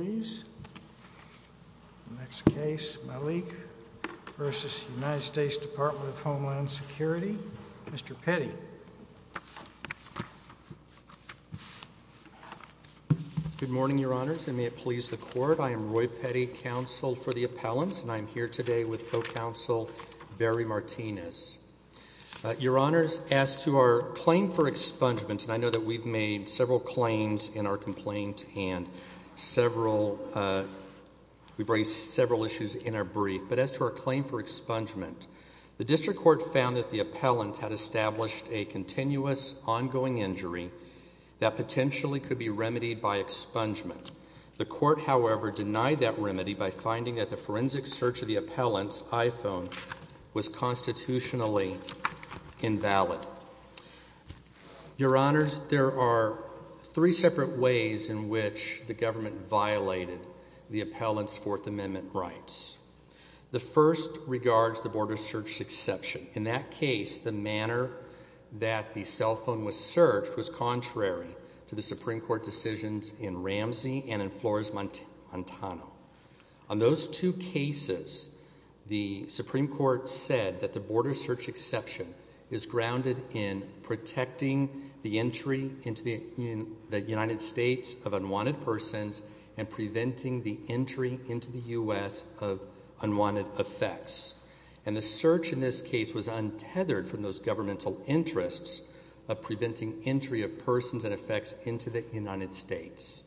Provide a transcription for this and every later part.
Good morning, Your Honors, and may it please the Court, I am Roy Petty, Counsel for the Appellants, and I am here today with Co-Counsel Barry Martinez. Your Honors, as to our claim for expungement, and I know that we've made several claims in our complaint and we've raised several issues in our brief, but as to our claim for expungement, the District Court found that the appellant had established a continuous, ongoing injury that potentially could be remedied by expungement. The Court, however, denied that remedy by finding that forensic search of the appellant's iPhone was constitutionally invalid. Your Honors, there are three separate ways in which the government violated the appellant's Fourth Amendment rights. The first regards the border search exception. In that case, the manner that the cell phone was searched was contrary to the Supreme Court decisions in Ramsey and Flores-Montano. On those two cases, the Supreme Court said that the border search exception is grounded in protecting the entry into the United States of unwanted persons and preventing the entry into the U.S. of unwanted effects. And the search in this case was untethered from those governmental interests of preventing entry of persons and effects into the United States.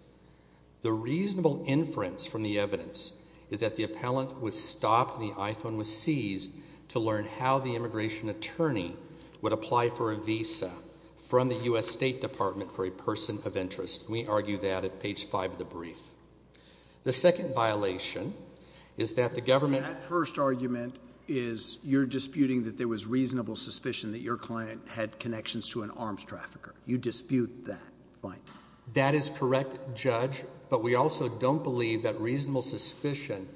The reasonable inference from the evidence is that the appellant was stopped and the iPhone was seized to learn how the immigration attorney would apply for a visa from the U.S. State Department for a person of interest. We argue that at page five of the brief. The second violation is that the government... That first argument is you're disputing that there was reasonable suspicion that your client had connections to an arms trafficker. You dispute that. That is correct, Judge, but we also don't believe that reasonable suspicion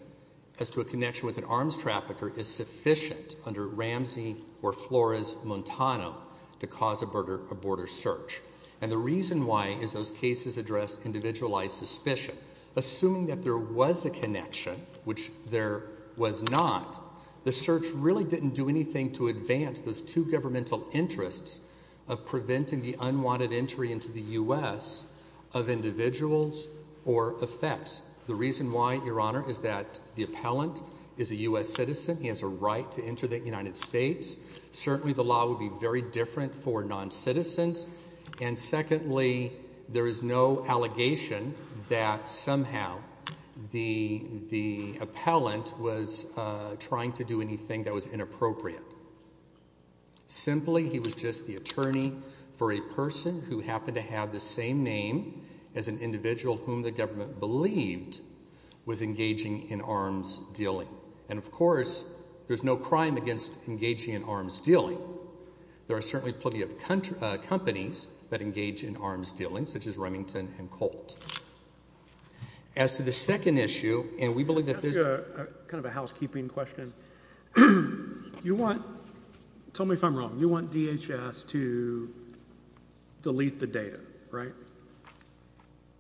as to a connection with an arms trafficker is sufficient under Ramsey or Flores-Montano to cause a border search. And the reason why is those cases address individualized suspicion. Assuming that there was a connection, which there was not, the search really didn't do anything to advance those two governmental interests of preventing the unwanted entry into the U.S. of individuals or effects. The reason why, Your Honor, is that the appellant is a U.S. citizen. He has a right to enter the United States. Certainly the law would be very different for non-citizens. And secondly, there is no allegation that somehow the appellant was trying to do anything that was inappropriate. Simply, he was just the attorney for a person who happened to have the same name as an individual whom the government believed was engaging in arms dealing. And of course, there's no crime against engaging in arms dealing. There are certainly plenty of companies that engage in arms dealing, such as Remington and Colt. As to the second issue, and we believe that this... That's kind of a housekeeping question. You want, tell me if I'm wrong, you want DHS to delete the data, right?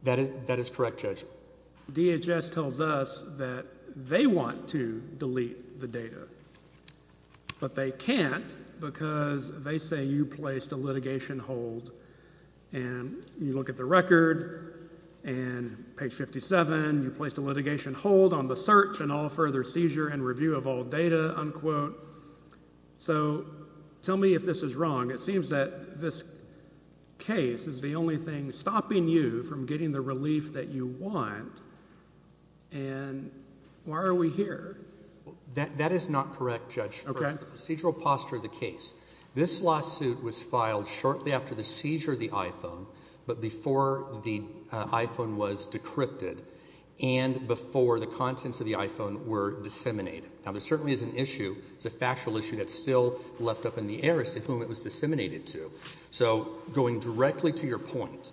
That is correct, Judge. DHS tells us that they want to delete the data, but they can't because they say you placed a litigation hold. And you look at the record, and page 57, you placed a litigation hold on the search and all further seizure and review of all data, unquote. So tell me if this is wrong. It seems that this case is the only thing stopping you from getting the relief that you want. And why are we here? That is not correct, Judge. Procedural posture of the case. This lawsuit was filed shortly after the seizure of the iPhone, but before the iPhone was decrypted, and before the contents of the iPhone were disseminated. Now there certainly is an issue, it's a factual issue that's still left up in the air as to whom it was disseminated to. So going directly to your point,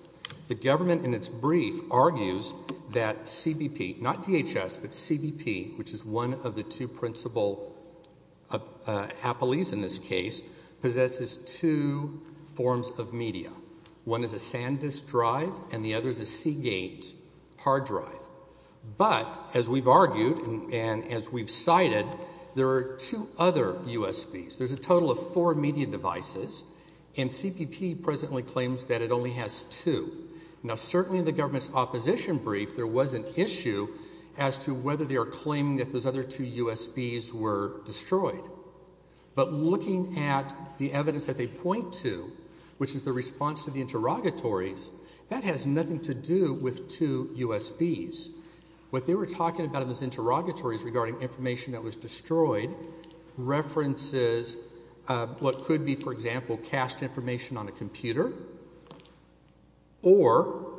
the government in its brief argues that CBP, not DHS, but CBP, which is one of the two principal appellees in this case, possesses two forms of media. One is a SanDisk drive, and the other is a Seagate hard drive. But, as we've argued, and as we've cited, there are two other USBs. There's a total of four media devices, and CBP presently claims that it only has two. Now certainly in the government's opposition brief, there was an issue as to whether they are claiming that those other two USBs were destroyed. But looking at the evidence that they point to, which is the response to the interrogatories, that has nothing to do with two USBs. What they were talking about in those interrogatories regarding information that was destroyed references what could be, for example, cached information on a computer, or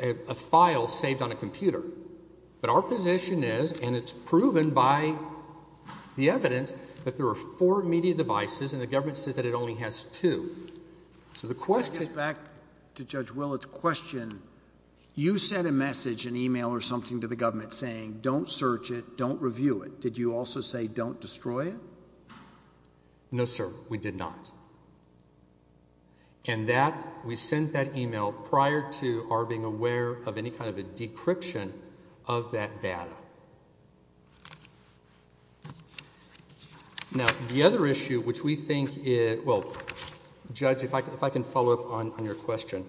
a file saved on a computer. But our position is, and it's proven by the evidence, that there are four media devices, and the government says that it only has two. So the question... Let's get back to Judge Willard's question. You sent a message, an e-mail or something to the government saying, don't search it, don't review it. Did you also say, don't destroy it? No, sir, we did not. And that, we sent that e-mail prior to our being aware of any kind of a decryption of that data. Now, the other issue which we think, well, Judge, if I can follow up on your question,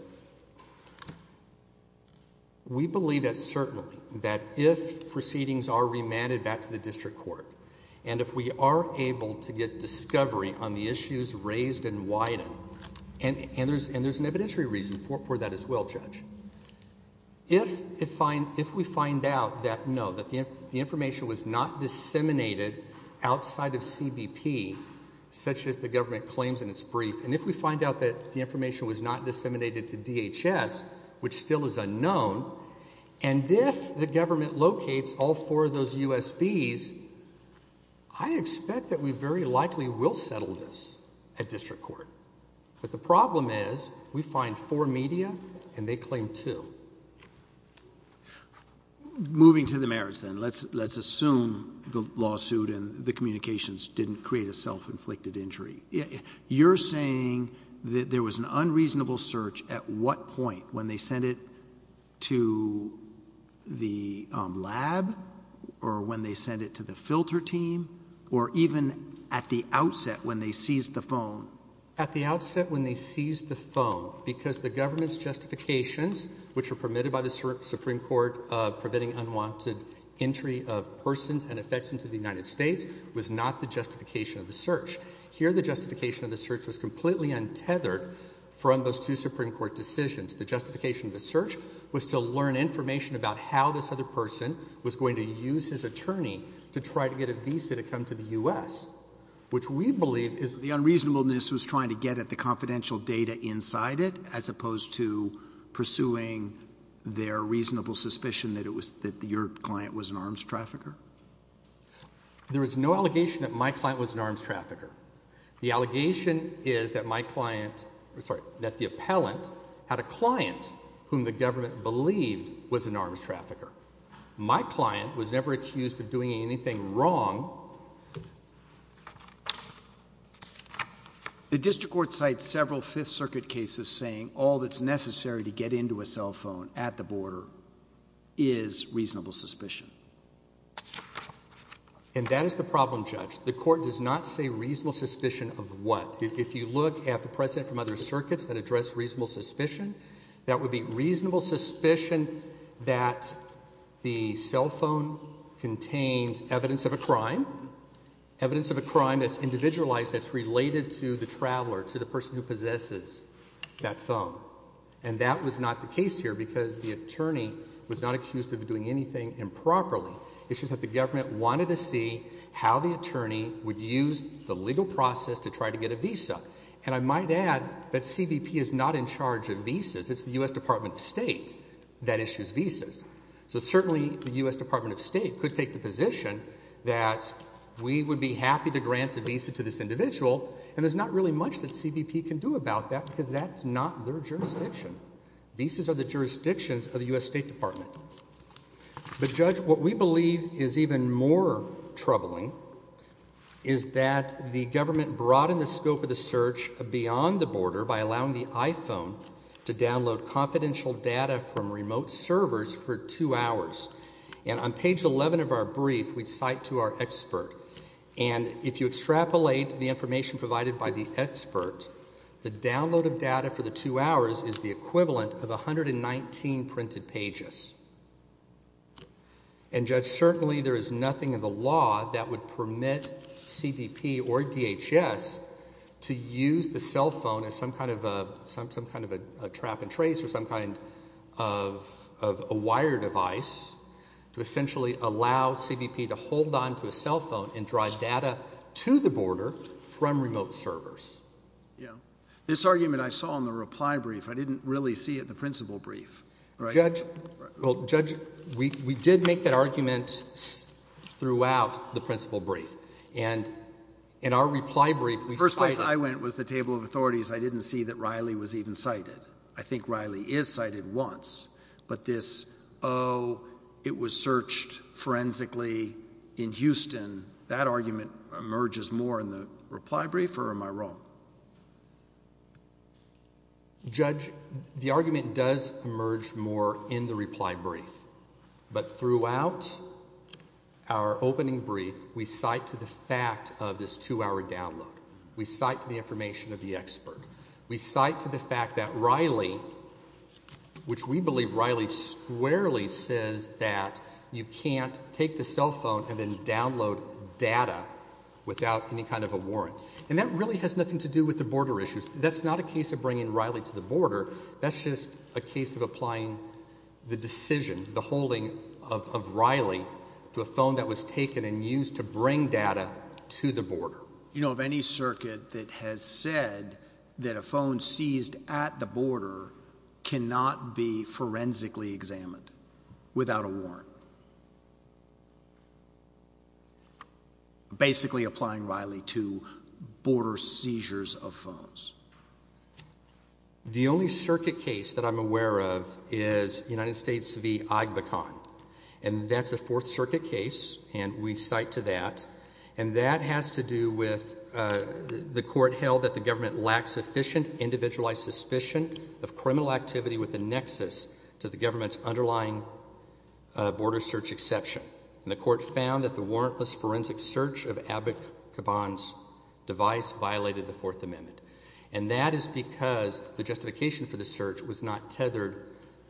we believe that certainly, that if proceedings are remanded back to the district court, and if we are able to get discovery on the issues raised and widened, and there's an evidentiary reason for that as well, Judge. If we find out that, no, that the information was not disseminated outside of CBP, such as the government claims in its brief, and if we find out that the information was not disseminated to DHS, which is the district court, I expect that we very likely will settle this at district court. But the problem is, we find four media, and they claim two. Moving to the merits, then. Let's assume the lawsuit and the communications didn't create a self-inflicted injury. You're saying that there was an unreasonable search at what point, when they sent it to the lab, or when they sent it to the filter team, or even at the outset when they seized the phone? At the outset when they seized the phone, because the government's justifications, which were permitted by the Supreme Court of preventing unwanted entry of persons and effects into the United States, was not the justification of the search. Here, the justification of the search has been tethered from those two Supreme Court decisions. The justification of the search was to learn information about how this other person was going to use his attorney to try to get a visa to come to the U.S., which we believe is... The unreasonableness was trying to get at the confidential data inside it, as opposed to pursuing their reasonable suspicion that it was, that your client was an arms trafficker? There is no allegation that my client was an arms trafficker. The allegation is that my client, sorry, that the appellant had a client whom the government believed was an arms trafficker. My client was never accused of doing anything wrong. The district court cites several Fifth Circuit cases saying all that's necessary to get into a cell phone at the border is reasonable suspicion. And that is the problem, Judge. The court does not say reasonable suspicion of what? If you look at the precedent from other circuits that address reasonable suspicion, that would be reasonable suspicion that the cell phone contains evidence of a crime, evidence of a crime that's individualized, that's related to the traveler, to the person who possesses that phone. And that was not the case here, because the attorney was not accused of doing anything improperly. It's just that the government wanted to see how the attorney would use the legal process to try to get a visa. And I might add that CBP is not in charge of visas. It's the U.S. Department of State that issues visas. So certainly the U.S. Department of State could take the position that we would be happy to grant a visa to this individual, and there's not really much that CBP can do about that, because that's not their jurisdiction. Visas are the jurisdictions of the U.S. State Department. But, Judge, what we believe is even more troubling is that the government broadened the scope of the search beyond the border by allowing the iPhone to download confidential data from remote servers for two hours. And on page 11 of our brief, we cite to our expert. And if you extrapolate the information provided by the expert, the download of data for the two hours is the equivalent of 119 printed pages. And, Judge, certainly there is nothing in the law that would permit CBP or DHS to use the cell phone as some kind of a trap and trace or some kind of a wire device to essentially allow CBP to hold onto a cell phone and to download data to the border from remote servers. This argument I saw in the reply brief, I didn't really see it in the principle brief. Judge, we did make that argument throughout the principle brief. And in our reply brief, we cited. The first place I went was the table of authorities. I didn't see that Riley was even cited. I think Riley is cited once. But this, oh, it was searched forensically in Houston, that argument emerges more in the reply brief, or am I wrong? Judge, the argument does emerge more in the reply brief. But throughout our opening brief, we cite to the fact of this two-hour download. We cite to the information of the expert. We cite to the fact that Riley, which we believe Riley squarely says that you can't take the data without any kind of a warrant. And that really has nothing to do with the border issues. That's not a case of bringing Riley to the border. That's just a case of applying the decision, the holding of Riley to a phone that was taken and used to bring data to the border. You know of any circuit that has said that a phone seized at the border cannot be forensically examined without a warrant? Basically applying Riley to border seizures of phones. The only circuit case that I'm aware of is United States v. IGBECON. And that's a Fourth Circuit case, and we cite to that. And that has to do with the court held that the government lacks sufficient individualized suspicion of criminal activity with a nexus to the government's underlying border search exception. And the court found that the warrantless forensic search of Abbott-Kaban's device violated the Fourth Amendment. And that is because the justification for the search was not tethered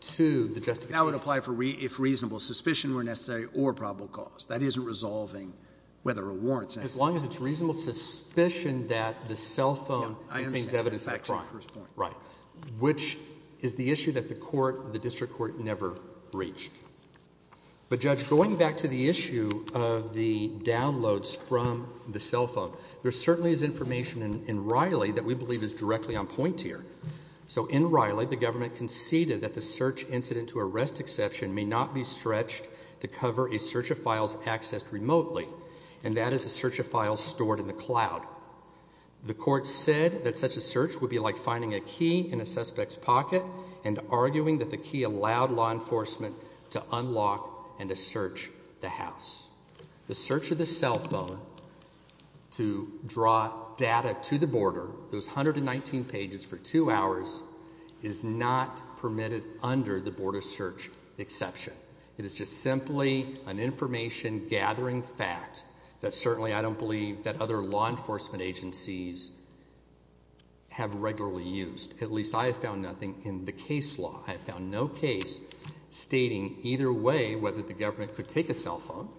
to the justification. That would apply if reasonable suspicion were necessary or probable cause. That isn't resolving whether a warrant's necessary. As long as it's reasonable suspicion that the cell phone contains evidence of a crime. Which is the issue that the court, the district court, never reached. But Judge, going back to the issue of the downloads from the cell phone, there certainly is information in Riley that we believe is directly on point here. So in Riley, the government conceded that the search incident to arrest exception may not be stretched to cover a search of files stored in the cloud. The court said that such a search would be like finding a key in a suspect's pocket and arguing that the key allowed law enforcement to unlock and to search the house. The search of the cell phone to draw data to the border, those 119 pages for two hours, is not permitted under the border search exception. It is just simply an information-gathering fact that certainly I don't believe that other law enforcement agencies have regularly used. At least I have found nothing in the case law. I have found no case stating either way whether the government could take a cell phone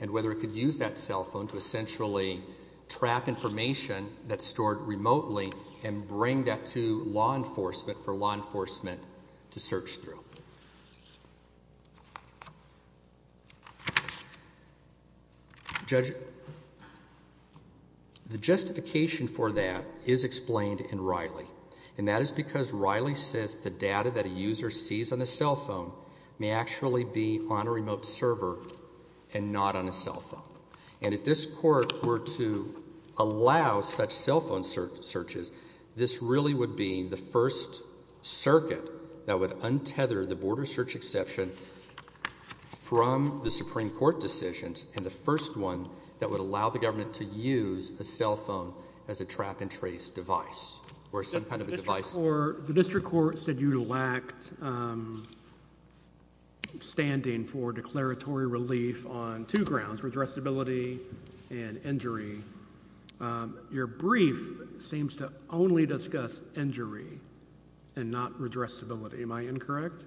and whether it could use that cell phone to essentially trap information that's stored remotely and bring that to law enforcement for law enforcement to search through. Judge, the justification for that is explained in Riley, and that is because Riley says the data that a user sees on a cell phone may actually be on a remote server and not on a cell phone. And if this Court were to allow such cell phone searches, this really would be the first circuit that would untether the border search exception from the Supreme Court decisions and the first one that would allow the government to use a cell phone as a trap and trace device or some kind of a device. The District Court said you lacked standing for declaratory relief on two grounds, redressability and injury. Your brief seems to only discuss injury and not redressability. Am I incorrect?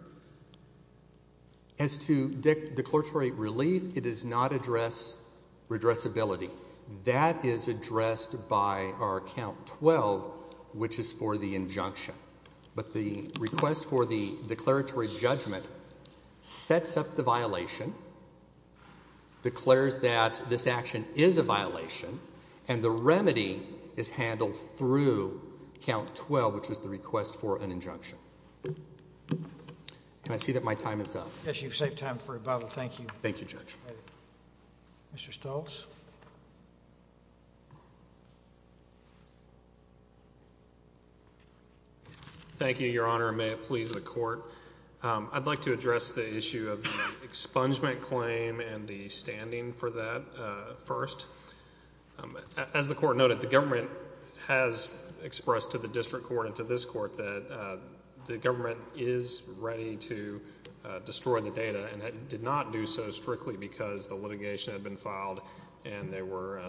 As to declaratory relief, it does not address redressability. That is addressed by our Count 12, which is for the injunction. But the request for the declaratory judgment sets up the violation, declares that this action is a violation, and the remedy is handled through Count 12, which is the request for an injunction. Can I see that my time is up? Yes, you've saved time for rebuttal. Thank you. Thank you, Judge. Mr. Stoltz? Thank you, Your Honor, and may it please the Court. I'd like to address the issue of the expungement claim and the standing for that first. As the Court noted, the government has expressed to the District Court and to this Court that the government is ready to destroy the data, and it did not do so strictly because the litigation had been filed and there were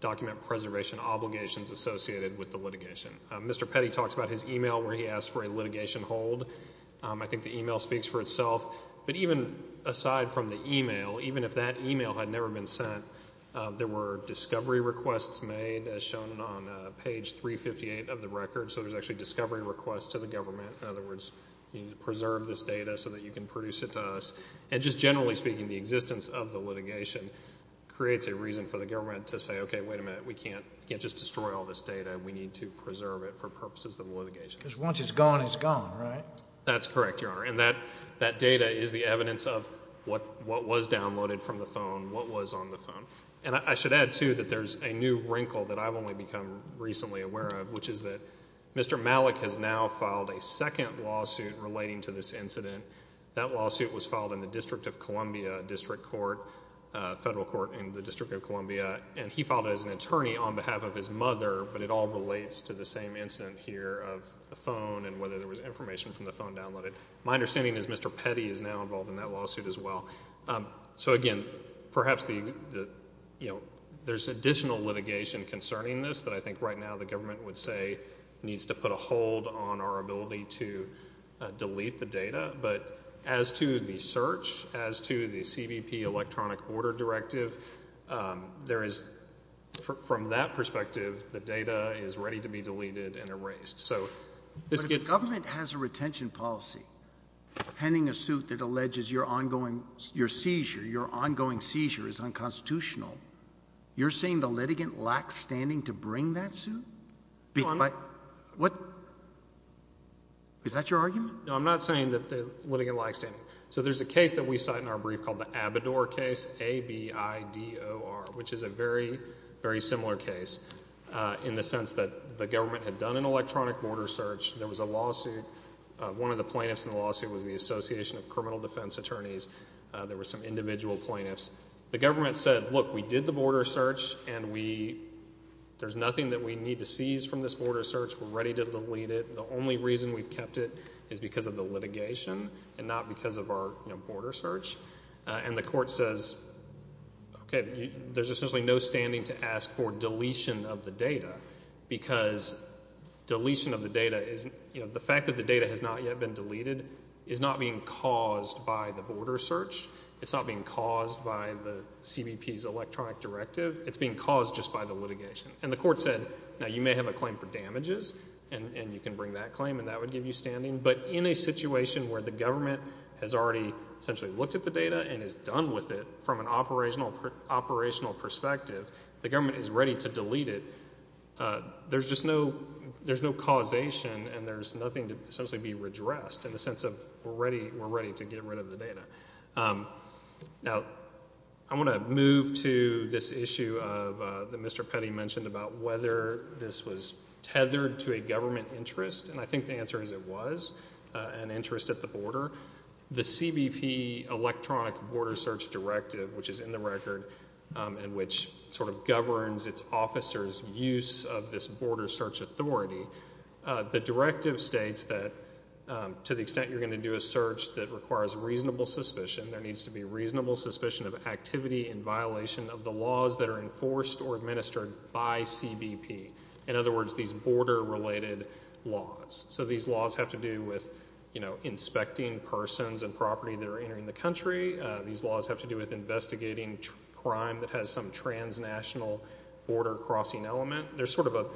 document preservation obligations associated with the litigation. Mr. Petty talks about his email where he asked for a litigation hold. I think the email speaks for itself. But even aside from the email, even if that email had never been sent, there were discovery requests made, as shown on page 358 of the record. So there's actually discovery requests to the government. In other words, you need to preserve this data so that you can produce it to us. And just generally speaking, the existence of the litigation creates a reason for the government to say, okay, wait a minute, we can't just destroy all this data. We need to preserve it for purposes of the litigation. Because once it's gone, it's gone, right? That's correct, Your Honor. And that data is the evidence of what was downloaded from the phone, what was on the phone. And I should add, too, that there's a new wrinkle that I've only become recently aware of, which is that Mr. Malik has now filed a second lawsuit relating to this incident. That lawsuit was filed in the District of Columbia District Court, Federal Court in the District of Columbia, and he filed it as an attorney on behalf of his mother, but it all relates to the same incident here of the phone and whether there was information from the phone downloaded. My understanding is Mr. Petty is now involved in that lawsuit as well. So, again, perhaps the, you know, there's additional litigation concerning this that I think right now the government would say needs to put a hold on our ability to delete the data. But as to the search, as to the CBP electronic order directive, there is, from that perspective, the data is ready to be deleted and erased. But if the government has a retention policy, pending a suit that alleges your ongoing seizure is unconstitutional, you're saying the litigant lacks standing to bring that suit? No, I'm not saying that the litigant lacks standing. So there's a case that we cite in our brief called the Abador case, A-B-I-D-O-R, which is a very, very similar case in the government had done an electronic border search. There was a lawsuit. One of the plaintiffs in the lawsuit was the Association of Criminal Defense Attorneys. There were some individual plaintiffs. The government said, look, we did the border search and we, there's nothing that we need to seize from this border search. We're ready to delete it. The only reason we've kept it is because of the litigation and not because of our, you know, border search. And the court says, okay, there's essentially no standing to ask for deletion of the data because deletion of the data isn't, you know, the fact that the data has not yet been deleted is not being caused by the border search. It's not being caused by the CBP's electronic directive. It's being caused just by the litigation. And the court said, now you may have a claim for damages and you can bring that claim and that would give you standing. But in a situation where the government has already essentially looked at the data and is done with it from an operational perspective, the government is ready to delete it. There's just no, there's no causation and there's nothing to essentially be redressed in the sense of we're ready to get rid of the data. Now, I want to move to this issue of, that Mr. Petty mentioned about whether this was tethered to a government interest. And I think the answer is it was an interest at the border. The CBP electronic border search directive, which is in the record and which sort of governs its officers' use of this border search authority, the directive states that to the extent you're going to do a search that requires reasonable suspicion, there needs to be reasonable suspicion of activity in violation of the laws that are enforced or administered by CBP. In other words, these border-related laws. So these laws have to do with, you know, inspecting persons and property that are entering the country. These laws have to do with investigating crime that has some transnational border-crossing element. There's sort of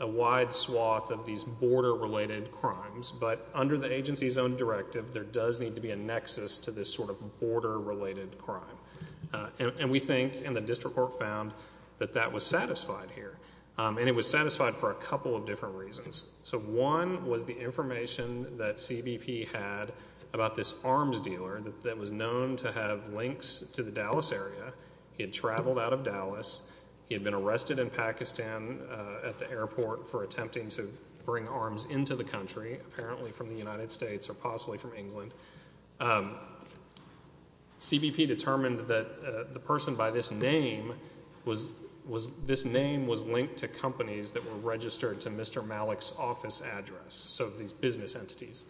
a wide swath of these border-related crimes. But under the agency's own directive, there does need to be a nexus to this sort of border-related crime. And we think, and the district court found, that that was satisfied here. And it was satisfied for a couple of different reasons. So one was the information that CBP had about this arms dealer that was known to have links to the Dallas area. He had traveled out of Dallas. He had been arrested in Pakistan at the airport for attempting to bring arms into the country, apparently from the United States or possibly from England. CBP determined that the person by this name was, this name was linked to companies that were registered to Mr. Malik's office address, so these business entities.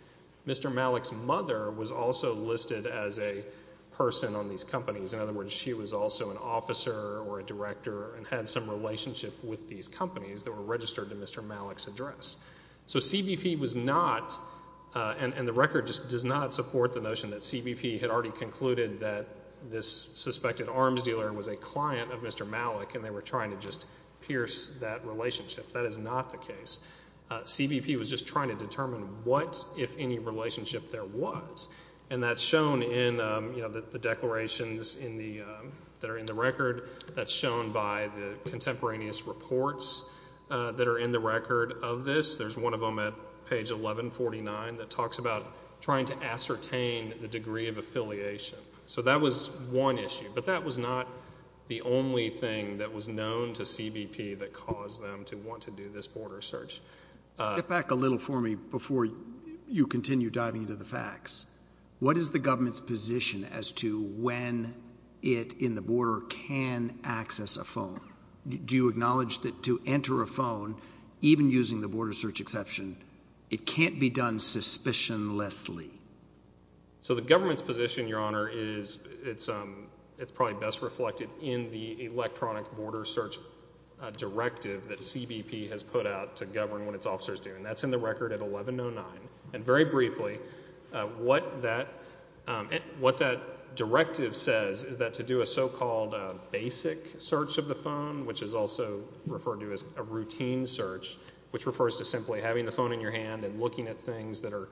Mr. Malik's mother was also listed as a person on these companies. In other words, she was also an officer or a director and had some relationship with these companies that were registered to Mr. Malik's address. So CBP was not, and the record just does not support the notion that CBP had already concluded that this suspected arms dealer was a client of Mr. Malik and they were trying to just pierce that relationship. That is not the case. CBP was just trying to determine what, if any, relationship there was. And that's shown in, you know, the declarations in the, that are in the record. That's shown by the contemporaneous reports that are in the record of this. There's one of them at page 1149 that talks about trying to ascertain the degree of affiliation. So that was one issue, but that was not the only thing that was known to CBP that caused them to want to do this border search. Get back a little for me before you continue diving into the facts. What is the government's position as to when it, in the border, can access a phone? Do you acknowledge that to enter a phone, even using the border search exception, it can't be done suspicionlessly? So the government's position, Your Honor, is it's probably best reflected in the electronic border search directive that CBP has put out to govern what its officers do. And that's in the record at 1109. And very briefly, what that, what that directive says is that to do a so-called basic search of the phone, which is also referred to as a routine search, which refers to simply having the phone in your hand and looking at things that are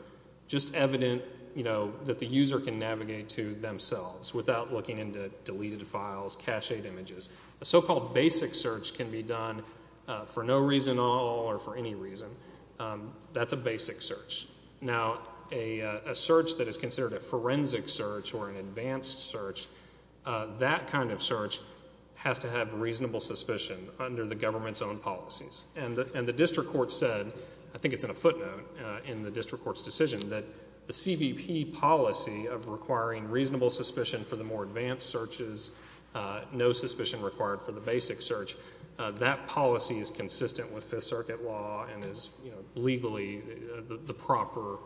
just evident, you know, that the user can navigate to themselves without looking into deleted files, cached images. A so-called basic search can be done for no reason at all or for any reason. That's a basic search. Now, a search that is considered a forensic search or an advanced search, that kind of search has to have reasonable suspicion under the government's own policies. And the district court said, I think it's in a footnote in the district court's decision, that the CBP policy of requiring reasonable suspicion for the more advanced searches, no suspicion required for the basic search, that policy is consistent with Fifth Circuit law and is, you know, legally the proper,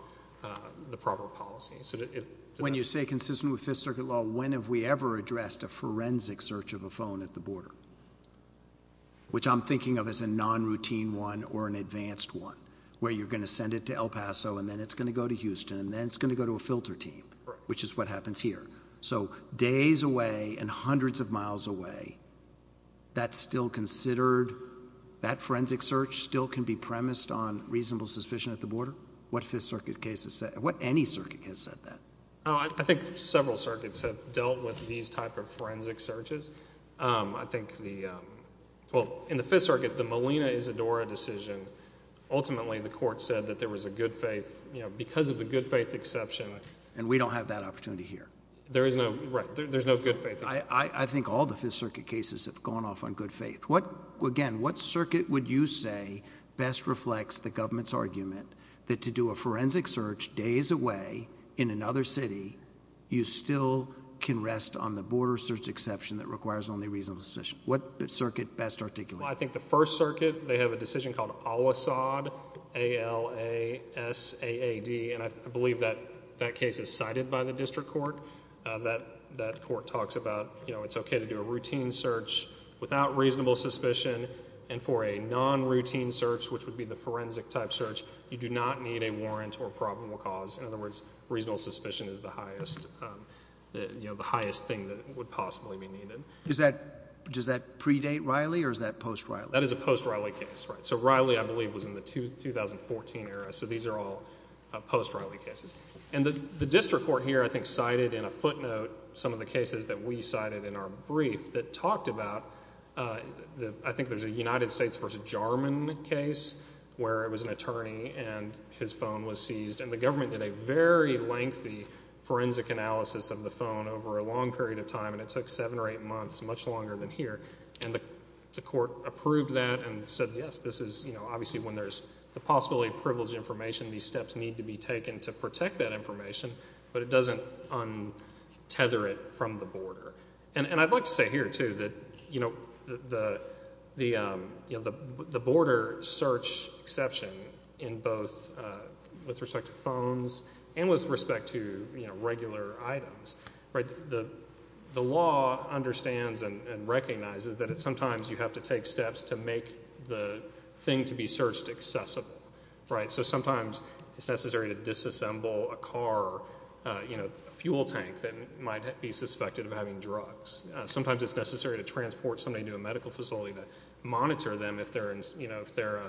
the proper policy. So if... When you say consistent with Fifth Circuit law, when have we ever addressed a forensic search of a phone at the border? Which I'm thinking of as a non-routine one or an advanced one where you're going to send it to El Paso and then it's going to go to Houston and then it's going to go to a filter team, which is what happens here. So days away and hundreds of miles away, that's still considered, that forensic search still can be premised on reasonable suspicion at the border? What Fifth Circuit cases say, what any circuit has said that? I think several circuits have dealt with these type of forensic searches. I think the, well, in the Fifth Circuit, the Molina-Isadora decision, ultimately the court said that there was a good faith, you know, because of the good faith exception. And we don't have that opportunity here. There is no, right, there's no good faith exception. I think all the Fifth Circuit cases have gone off on good faith. What, again, what circuit would you say best reflects the government's argument that to do a forensic search days away in another city, you still can rest on the border search exception that requires only reasonable suspicion? What circuit best articulates that? I think the First Circuit, they have a decision called Al-Asad, A-L-A-S-A-A-D, and I believe that that case is cited by the district court. That court talks about, you know, it's okay to do a routine search without reasonable suspicion and for a non-routine search, which would be the forensic type search, you do not need a warrant or probable cause. In other words, reasonable suspicion is the highest, you know, the highest thing that would possibly be needed. Is that, does that predate Riley or is that post-Riley? That is a post-Riley case, right. So Riley, I believe, was in the 2014 era. So these are all post-Riley cases. And the district court here, I think, cited in a footnote some of the cases that we cited in our brief that talked about, I think there's a United States v. Jarman case where it was an attorney and his phone was seized and the government did a very lengthy forensic analysis of the phone over a long period of time and it took seven or eight months, much longer than here. And the court approved that and said, yes, this is, you know, obviously when there's the possibility of privileged information, these steps need to be taken to protect that information, but it doesn't untether it from the border. And I'd like to say here, too, that, you know, the, you know, the border search exception in both with respect to phones and with respect to, you know, regular items, right, the law understands and recognizes that sometimes you have to take steps to make the thing to be searched accessible, right? So sometimes it's necessary to disassemble a car, you know, a fuel tank that might be suspected of having drugs. Sometimes it's necessary to transport somebody to a medical facility to monitor them if they're, you know, if they're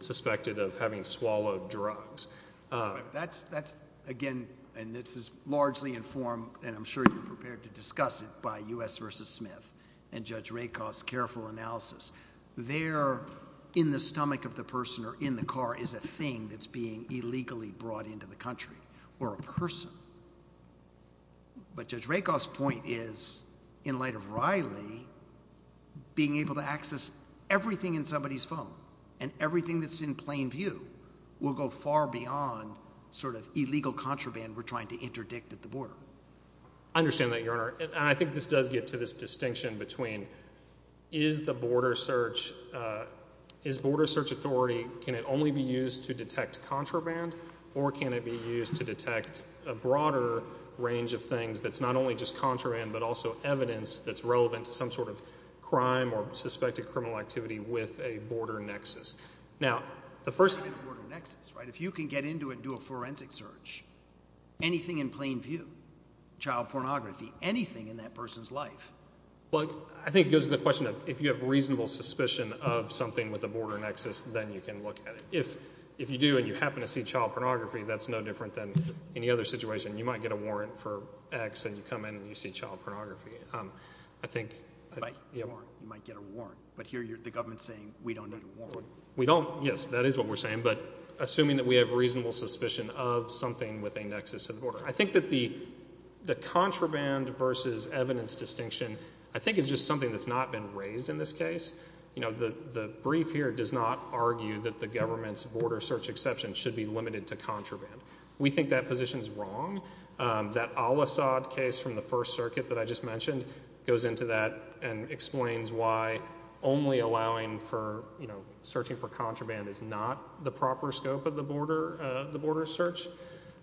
suspected of having swallowed drugs. That's, again, and this is largely informed, and I'm sure you're prepared to discuss it by U.S. versus Smith and Judge Rakoff's careful analysis. There in the stomach of the person or in the car is a thing that's being illegally brought into the country or a person. But Judge Rakoff's point is, in light of Riley, being able to access everything in somebody's phone and everything that's in plain view will go far beyond sort of illegal contraband we're trying to interdict at the border. I understand that, Your Honor, and I think this does get to this distinction between is the border search, is border search authority, can it only be used to detect contraband or can it be used to detect a broader range of things that's not only just contraband but also evidence that's relevant to some sort of crime or suspected criminal activity with a border nexus? Now, the first... You couldn't do a forensic search, anything in plain view, child pornography, anything in that person's life. Well, I think it goes to the question of if you have reasonable suspicion of something with a border nexus, then you can look at it. If you do and you happen to see child pornography, that's no different than any other situation. You might get a warrant for X and you come in and you see child pornography. I think... You might get a warrant, but here the government's saying we don't need a warrant. We don't, yes, that is what we're saying, but assuming that we have reasonable suspicion of something with a nexus to the border. I think that the contraband versus evidence distinction I think is just something that's not been raised in this case. The brief here does not argue that the government's border search exception should be limited to contraband. We think that position's wrong. That Al-Asad case from the First Circuit that I just mentioned goes into that and explains why only allowing for searching for contraband is not the proper scope of the border search.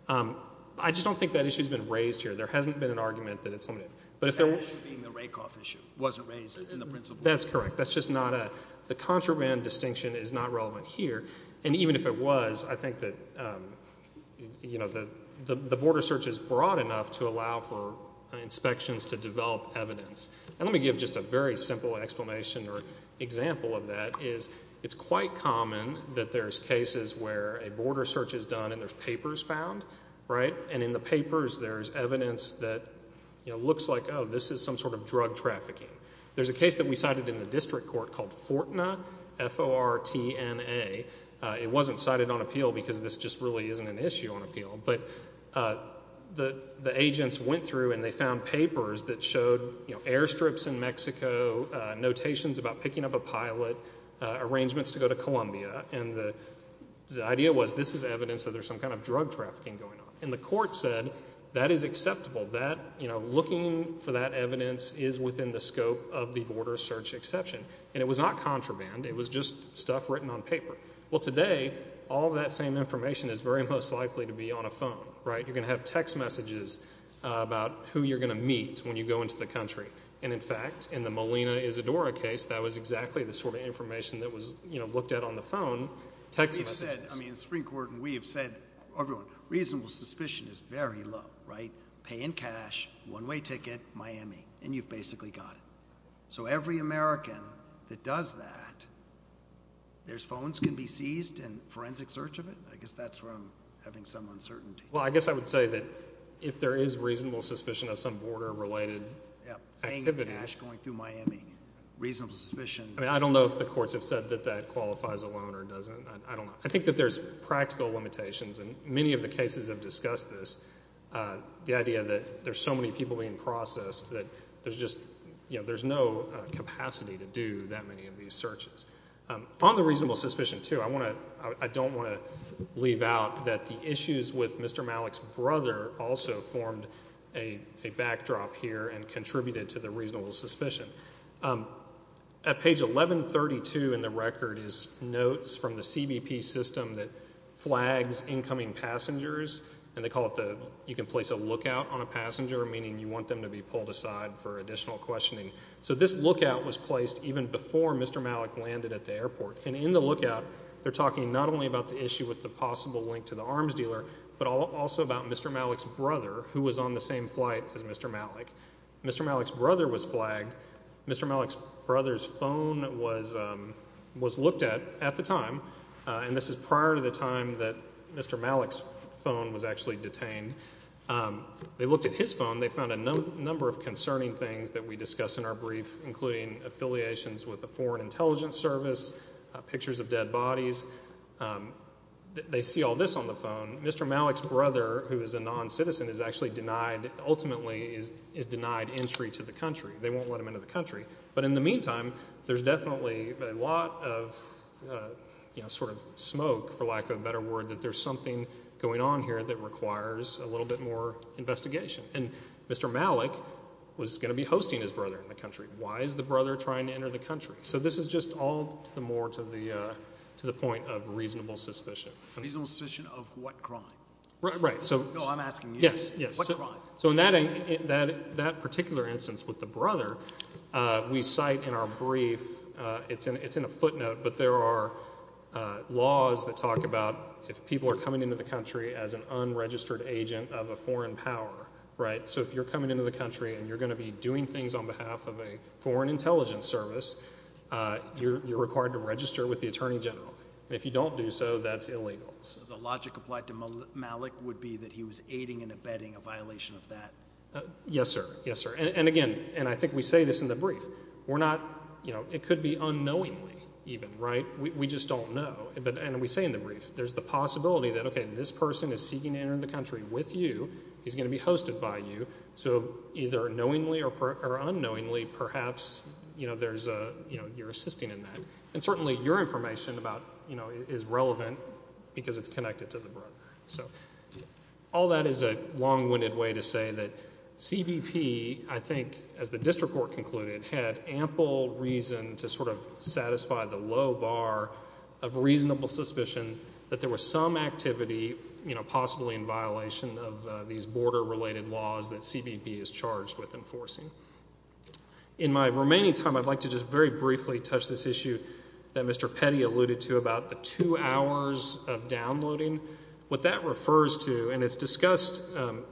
I just don't think that issue's been raised here. There hasn't been an argument that it's limited, but if there was... That issue being the Rakoff issue wasn't raised in the principle... That's correct. That's just not a... The contraband distinction is not relevant here, and even if it was, I think that the border search is broad enough to allow for inspections to develop evidence. And let me give just a very simple explanation or example of that is it's quite common that there's cases where a border search is done and there's papers found, right, and in the papers there's evidence that looks like, oh, this is some sort of drug trafficking. There's a case that we cited in the district court called Fortna, F-O-R-T-N-A. It wasn't cited on appeal because this just really isn't an issue on appeal, but the agents went through and they found papers that showed, you know, airstrips in Mexico, notations about picking up a pilot, arrangements to go to Columbia, and the idea was this is evidence that there's some kind of drug trafficking going on. And the court said that is acceptable, that, you know, looking for that evidence is within the scope of the border search exception. And it was not contraband. It was just stuff written on paper. Well, today, all that same information is very most likely to be on a phone, right? You're going to have text messages about who you're going to meet when you go into the country. And, in fact, in the Molina Isadora case, that was exactly the sort of information that was, you know, looked at on the phone, text messages. We've said, I mean, the Supreme Court and we have said, everyone, reasonable suspicion is very low, right? Pay in cash, one-way ticket, Miami, and you've basically got it. So every American that does that, their phones can be seized in forensic search of it? I guess that's where I'm having some uncertainty. Well, I guess I would say that if there is reasonable suspicion of some border-related Yep. Pay in cash going through Miami. Reasonable suspicion... I mean, I don't know if the courts have said that that qualifies alone or doesn't. I don't know. I think that there's practical limitations. And many of the cases have discussed this, the idea that there's so many people being processed that there's just, you know, there's no capacity to do that many of these searches. On the reasonable suspicion, too, I want to, I don't want to leave out that the issues with Mr. Malik's brother also formed a backdrop here and contributed to the reasonable suspicion. At page 1132 in the record is notes from the CBP system that flags incoming passengers and they call it the, you can place a lookout on a passenger, meaning you want them to be pulled aside for additional questioning. So this lookout was placed even before Mr. Malik landed at the airport. And in the lookout, they're talking not only about the issue with the possible link to the arms dealer, but also about Mr. Malik's brother, who was on the same flight as Mr. Malik. Mr. Malik's brother was flagged. Mr. Malik's brother's phone was looked at at the time. And this is prior to the time that Mr. Malik's phone was actually detained. They looked at his phone. They found a number of concerning things that we discuss in our brief, including affiliations with the Foreign Intelligence Service, pictures of dead bodies. They see all this on the phone. Mr. Malik's brother, who is a non-citizen, is actually denied, ultimately is denied entry to the country. They won't let him into the country. But in the meantime, there's definitely a lot of, you know, sort of smoke, for lack of a better word, that there's something going on here that requires a little bit more investigation. And Mr. Malik was going to be hosting his brother in the country. Why is the brother trying to enter the country? So this is just all to the more, to the point of reasonable suspicion. Reasonable suspicion of what crime? Right, so... No, I'm asking you. Yes, yes. What crime? So in that particular instance with the brother, we cite in our brief, it's in a footnote, but there are laws that talk about if people are coming into the country as an unregistered agent of a foreign power, right, so if you're coming into the country and you're going to be doing things on behalf of a foreign intelligence service, you're required to register with the Attorney General. If you don't do so, that's illegal. So the logic applied to Malik would be that he was aiding and abetting a violation of that? Yes, sir. Yes, sir. And again, and I think we say this in the brief, we're not, you know, it could be unknowingly even, right? We just don't know. And we say in the brief, there's the possibility that, okay, this person is seeking to enter the country with you. He's going to be hosted by you. So either knowingly or unknowingly, perhaps, you know, there's a, you know, you're assisting in that. And certainly your information about, you know, is relevant because it's connected to the brother. So all that is a long-winded way to say that CBP, I think, as the district court concluded, had ample reason to sort of satisfy the low bar of reasonable suspicion that there was some activity, you know, possibly in violation of these border-related laws that CBP is charged with enforcing. In my remaining time, I'd like to just very briefly touch this issue that Mr. Petty alluded to about the two hours of downloading. What that refers to, and it's discussed,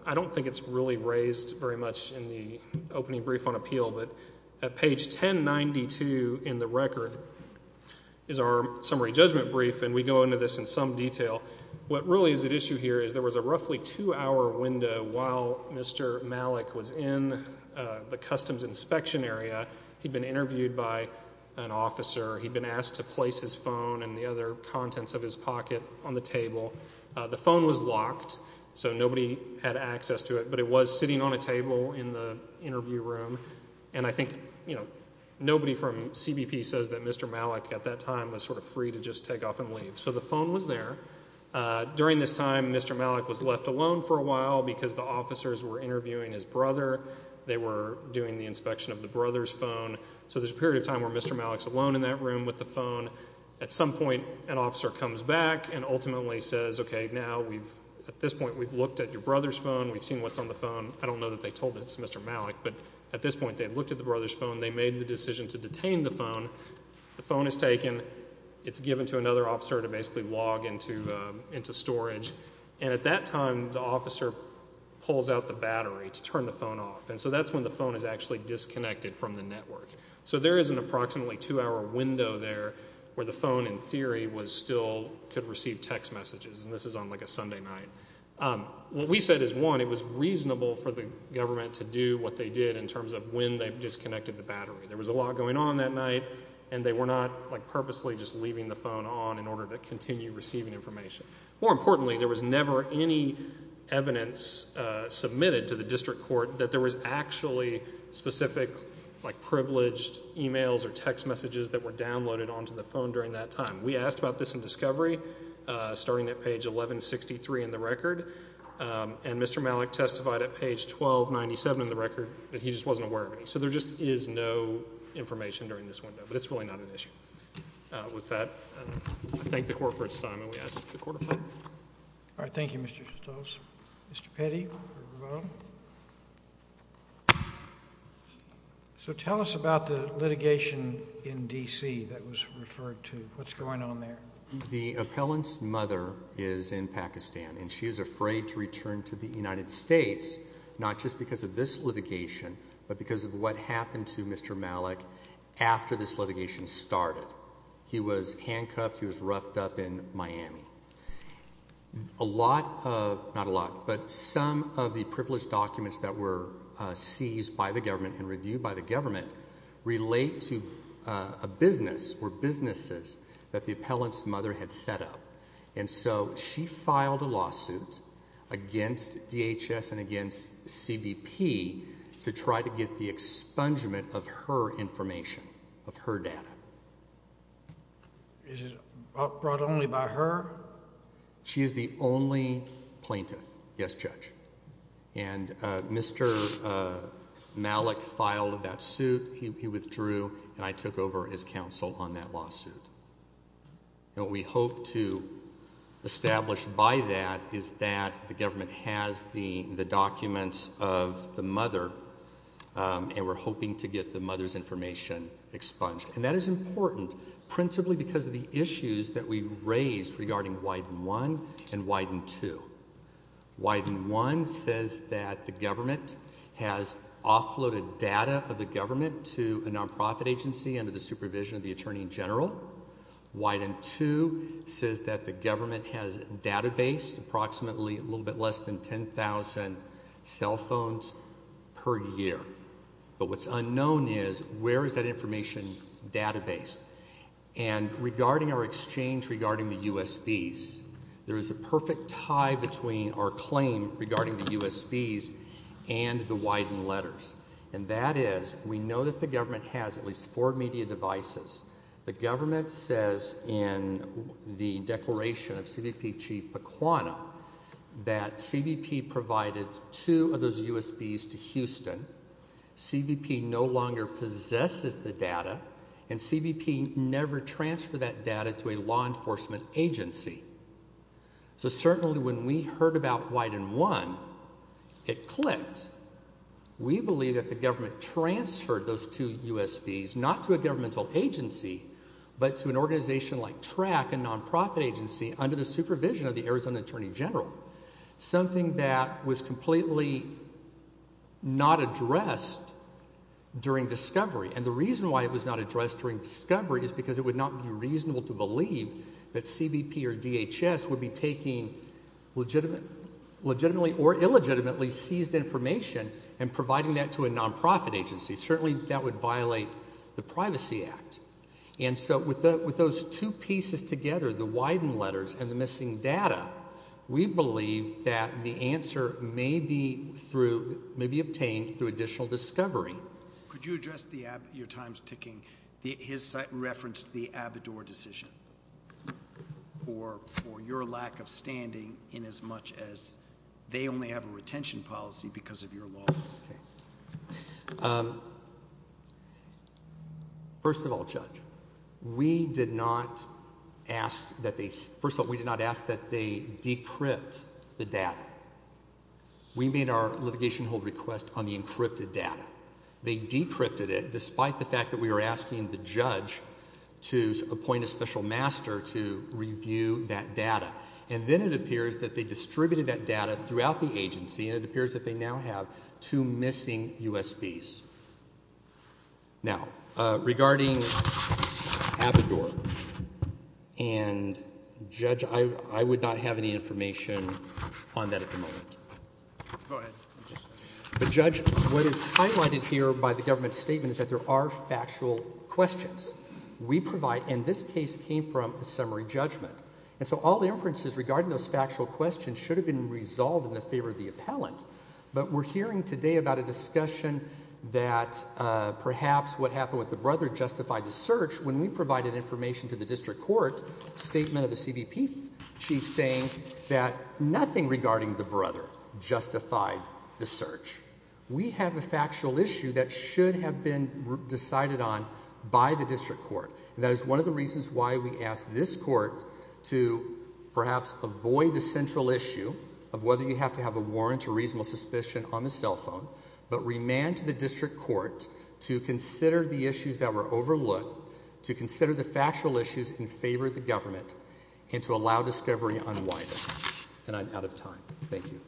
I don't think it's really raised very much in the opening brief on appeal, but at page 1092 in the record is our summary judgment brief, and we go into this in some detail. What really is at issue here is there was a roughly two-hour window while Mr. Malik was in the customs inspection area. He'd been interviewed by an officer. He'd been asked to place his phone and the other contents of his pocket on the table. The phone was locked, so nobody had access to it, but it was sitting on a table in the interview room. And I think, you know, nobody from CBP says that Mr. Malik at that time was sort of free to just take off and leave. So the phone was there. During this time, Mr. Malik was left alone for a while because the officers were interviewing his brother. They were doing the inspection of the brother's phone. So there's a period of time where Mr. Malik's alone in that room with the phone. At some point, an officer comes back and ultimately says, okay, now we've, at this point, we've looked at your brother's phone. We've seen what's on the phone. I don't know that they told this to Mr. Malik, but at this point, they had looked at the brother's phone. They made the decision to detain the phone. The phone is taken. It's given to another officer to basically log into storage. And at that time, the officer pulls out the battery to turn the phone off. And so that's when the phone is actually disconnected from the network. So there is an approximately two-hour window there where the phone, in theory, was still, could receive text messages. And this is on like a Sunday night. What we said is, one, it was reasonable for the government to do what they did in terms of when they disconnected the battery. There was a lot going on that night, and they were not like purposely just leaving the phone on in order to continue receiving information. More importantly, there was never any evidence submitted to the district court that there was actually specific like privileged emails or text messages that were downloaded onto the phone during that time. We asked about this in discovery, starting at page 1163 in the record. And Mr. Stoltz, there just is no information during this window, but it's really not an issue. With that, I thank the court for its time, and we ask that the court affirm. All right. Thank you, Mr. Stoltz. Mr. Petty for your vote. So tell us about the litigation in D.C. that was referred to. What's going on there? The appellant's mother is in Pakistan, and she is afraid to return to the United States, not just because of this litigation, but because of what happened to Mr. Malik after this litigation started. He was handcuffed. He was roughed up in Miami. A lot of, not a lot, but some of the privileged documents that were seized by the government and reviewed by the government relate to a business or businesses that the appellant's mother had set up. And so she filed a lawsuit against DHS and against CBP to try to get the expungement of her information, of her data. Is it brought only by her? She is the only plaintiff, yes, Judge. And Mr. Malik filed that suit. He withdrew, and I took over as counsel on that lawsuit. And what we hope to establish by that is that the government has the documents of the mother, and we're hoping to get the mother's information expunged. And that is important principally because of the issues that we raised regarding Widen I and Widen II. Widen I says that the government has offloaded data of the government to a nonprofit agency under the supervision of the Attorney General. Widen II says that the government has databased approximately a little bit less than 10,000 cell phones per year. But what's unknown is where is that information databased? And regarding our exchange regarding the USBs, there is a perfect tie between our claim regarding the USBs and the government. We know that the government has at least four media devices. The government says in the declaration of CBP Chief Paquano that CBP provided two of those USBs to Houston. CBP no longer possesses the data, and CBP never transferred that data to a law enforcement agency. So certainly when we heard about Widen I, it clicked. We believe that the government transferred those two USBs not to a governmental agency, but to an organization like TRAC, a nonprofit agency, under the supervision of the Arizona Attorney General, something that was completely not addressed during discovery. And the reason why it was not addressed during discovery is because it would not be reasonable to believe that CBP or DHS would be taking legitimately or illegitimately seized information and providing that to a nonprofit agency. Certainly that would violate the Privacy Act. And so with those two pieces together, the Widen letters and the missing data, we believe that the answer may be through, may be obtained through additional discovery. Could you address the, your time's ticking, his site referenced the Abador decision, or your lack of standing in as much as they only have a retention policy because of your law? First of all, Judge, we did not ask that they, first of all, we did not ask that they decrypt the data. We made our litigation hold request on the encrypted data. They decrypted it despite the fact that we were asking the judge to appoint a special master to review that data. And then it appears that they distributed that data throughout the agency, and it appears that they now have two missing USBs. Now, regarding Abador, and Judge, I would not have any information on that at the moment. Go ahead. But Judge, what is highlighted here by the government statement is that there are factual questions. We provide, and this case came from a summary judgment. And so all the inferences regarding those factual questions should have been resolved in the favor of the appellant. But we're hearing today about a discussion that perhaps what happened with the brother justified the search when we provided information to the district court, statement of the CBP chief saying that nothing regarding the brother justified the search. We have a factual issue that should have been decided on by the district court. That is one of the reasons why we asked this court to perhaps avoid the central issue of whether you have to have a warrant or reasonable suspicion on the cell phone, but remand to the district court to consider the issues that were overlooked, to consider the factual issues in favor of the government, and to allow discovery unwinding. And I'm out of time. Thank you.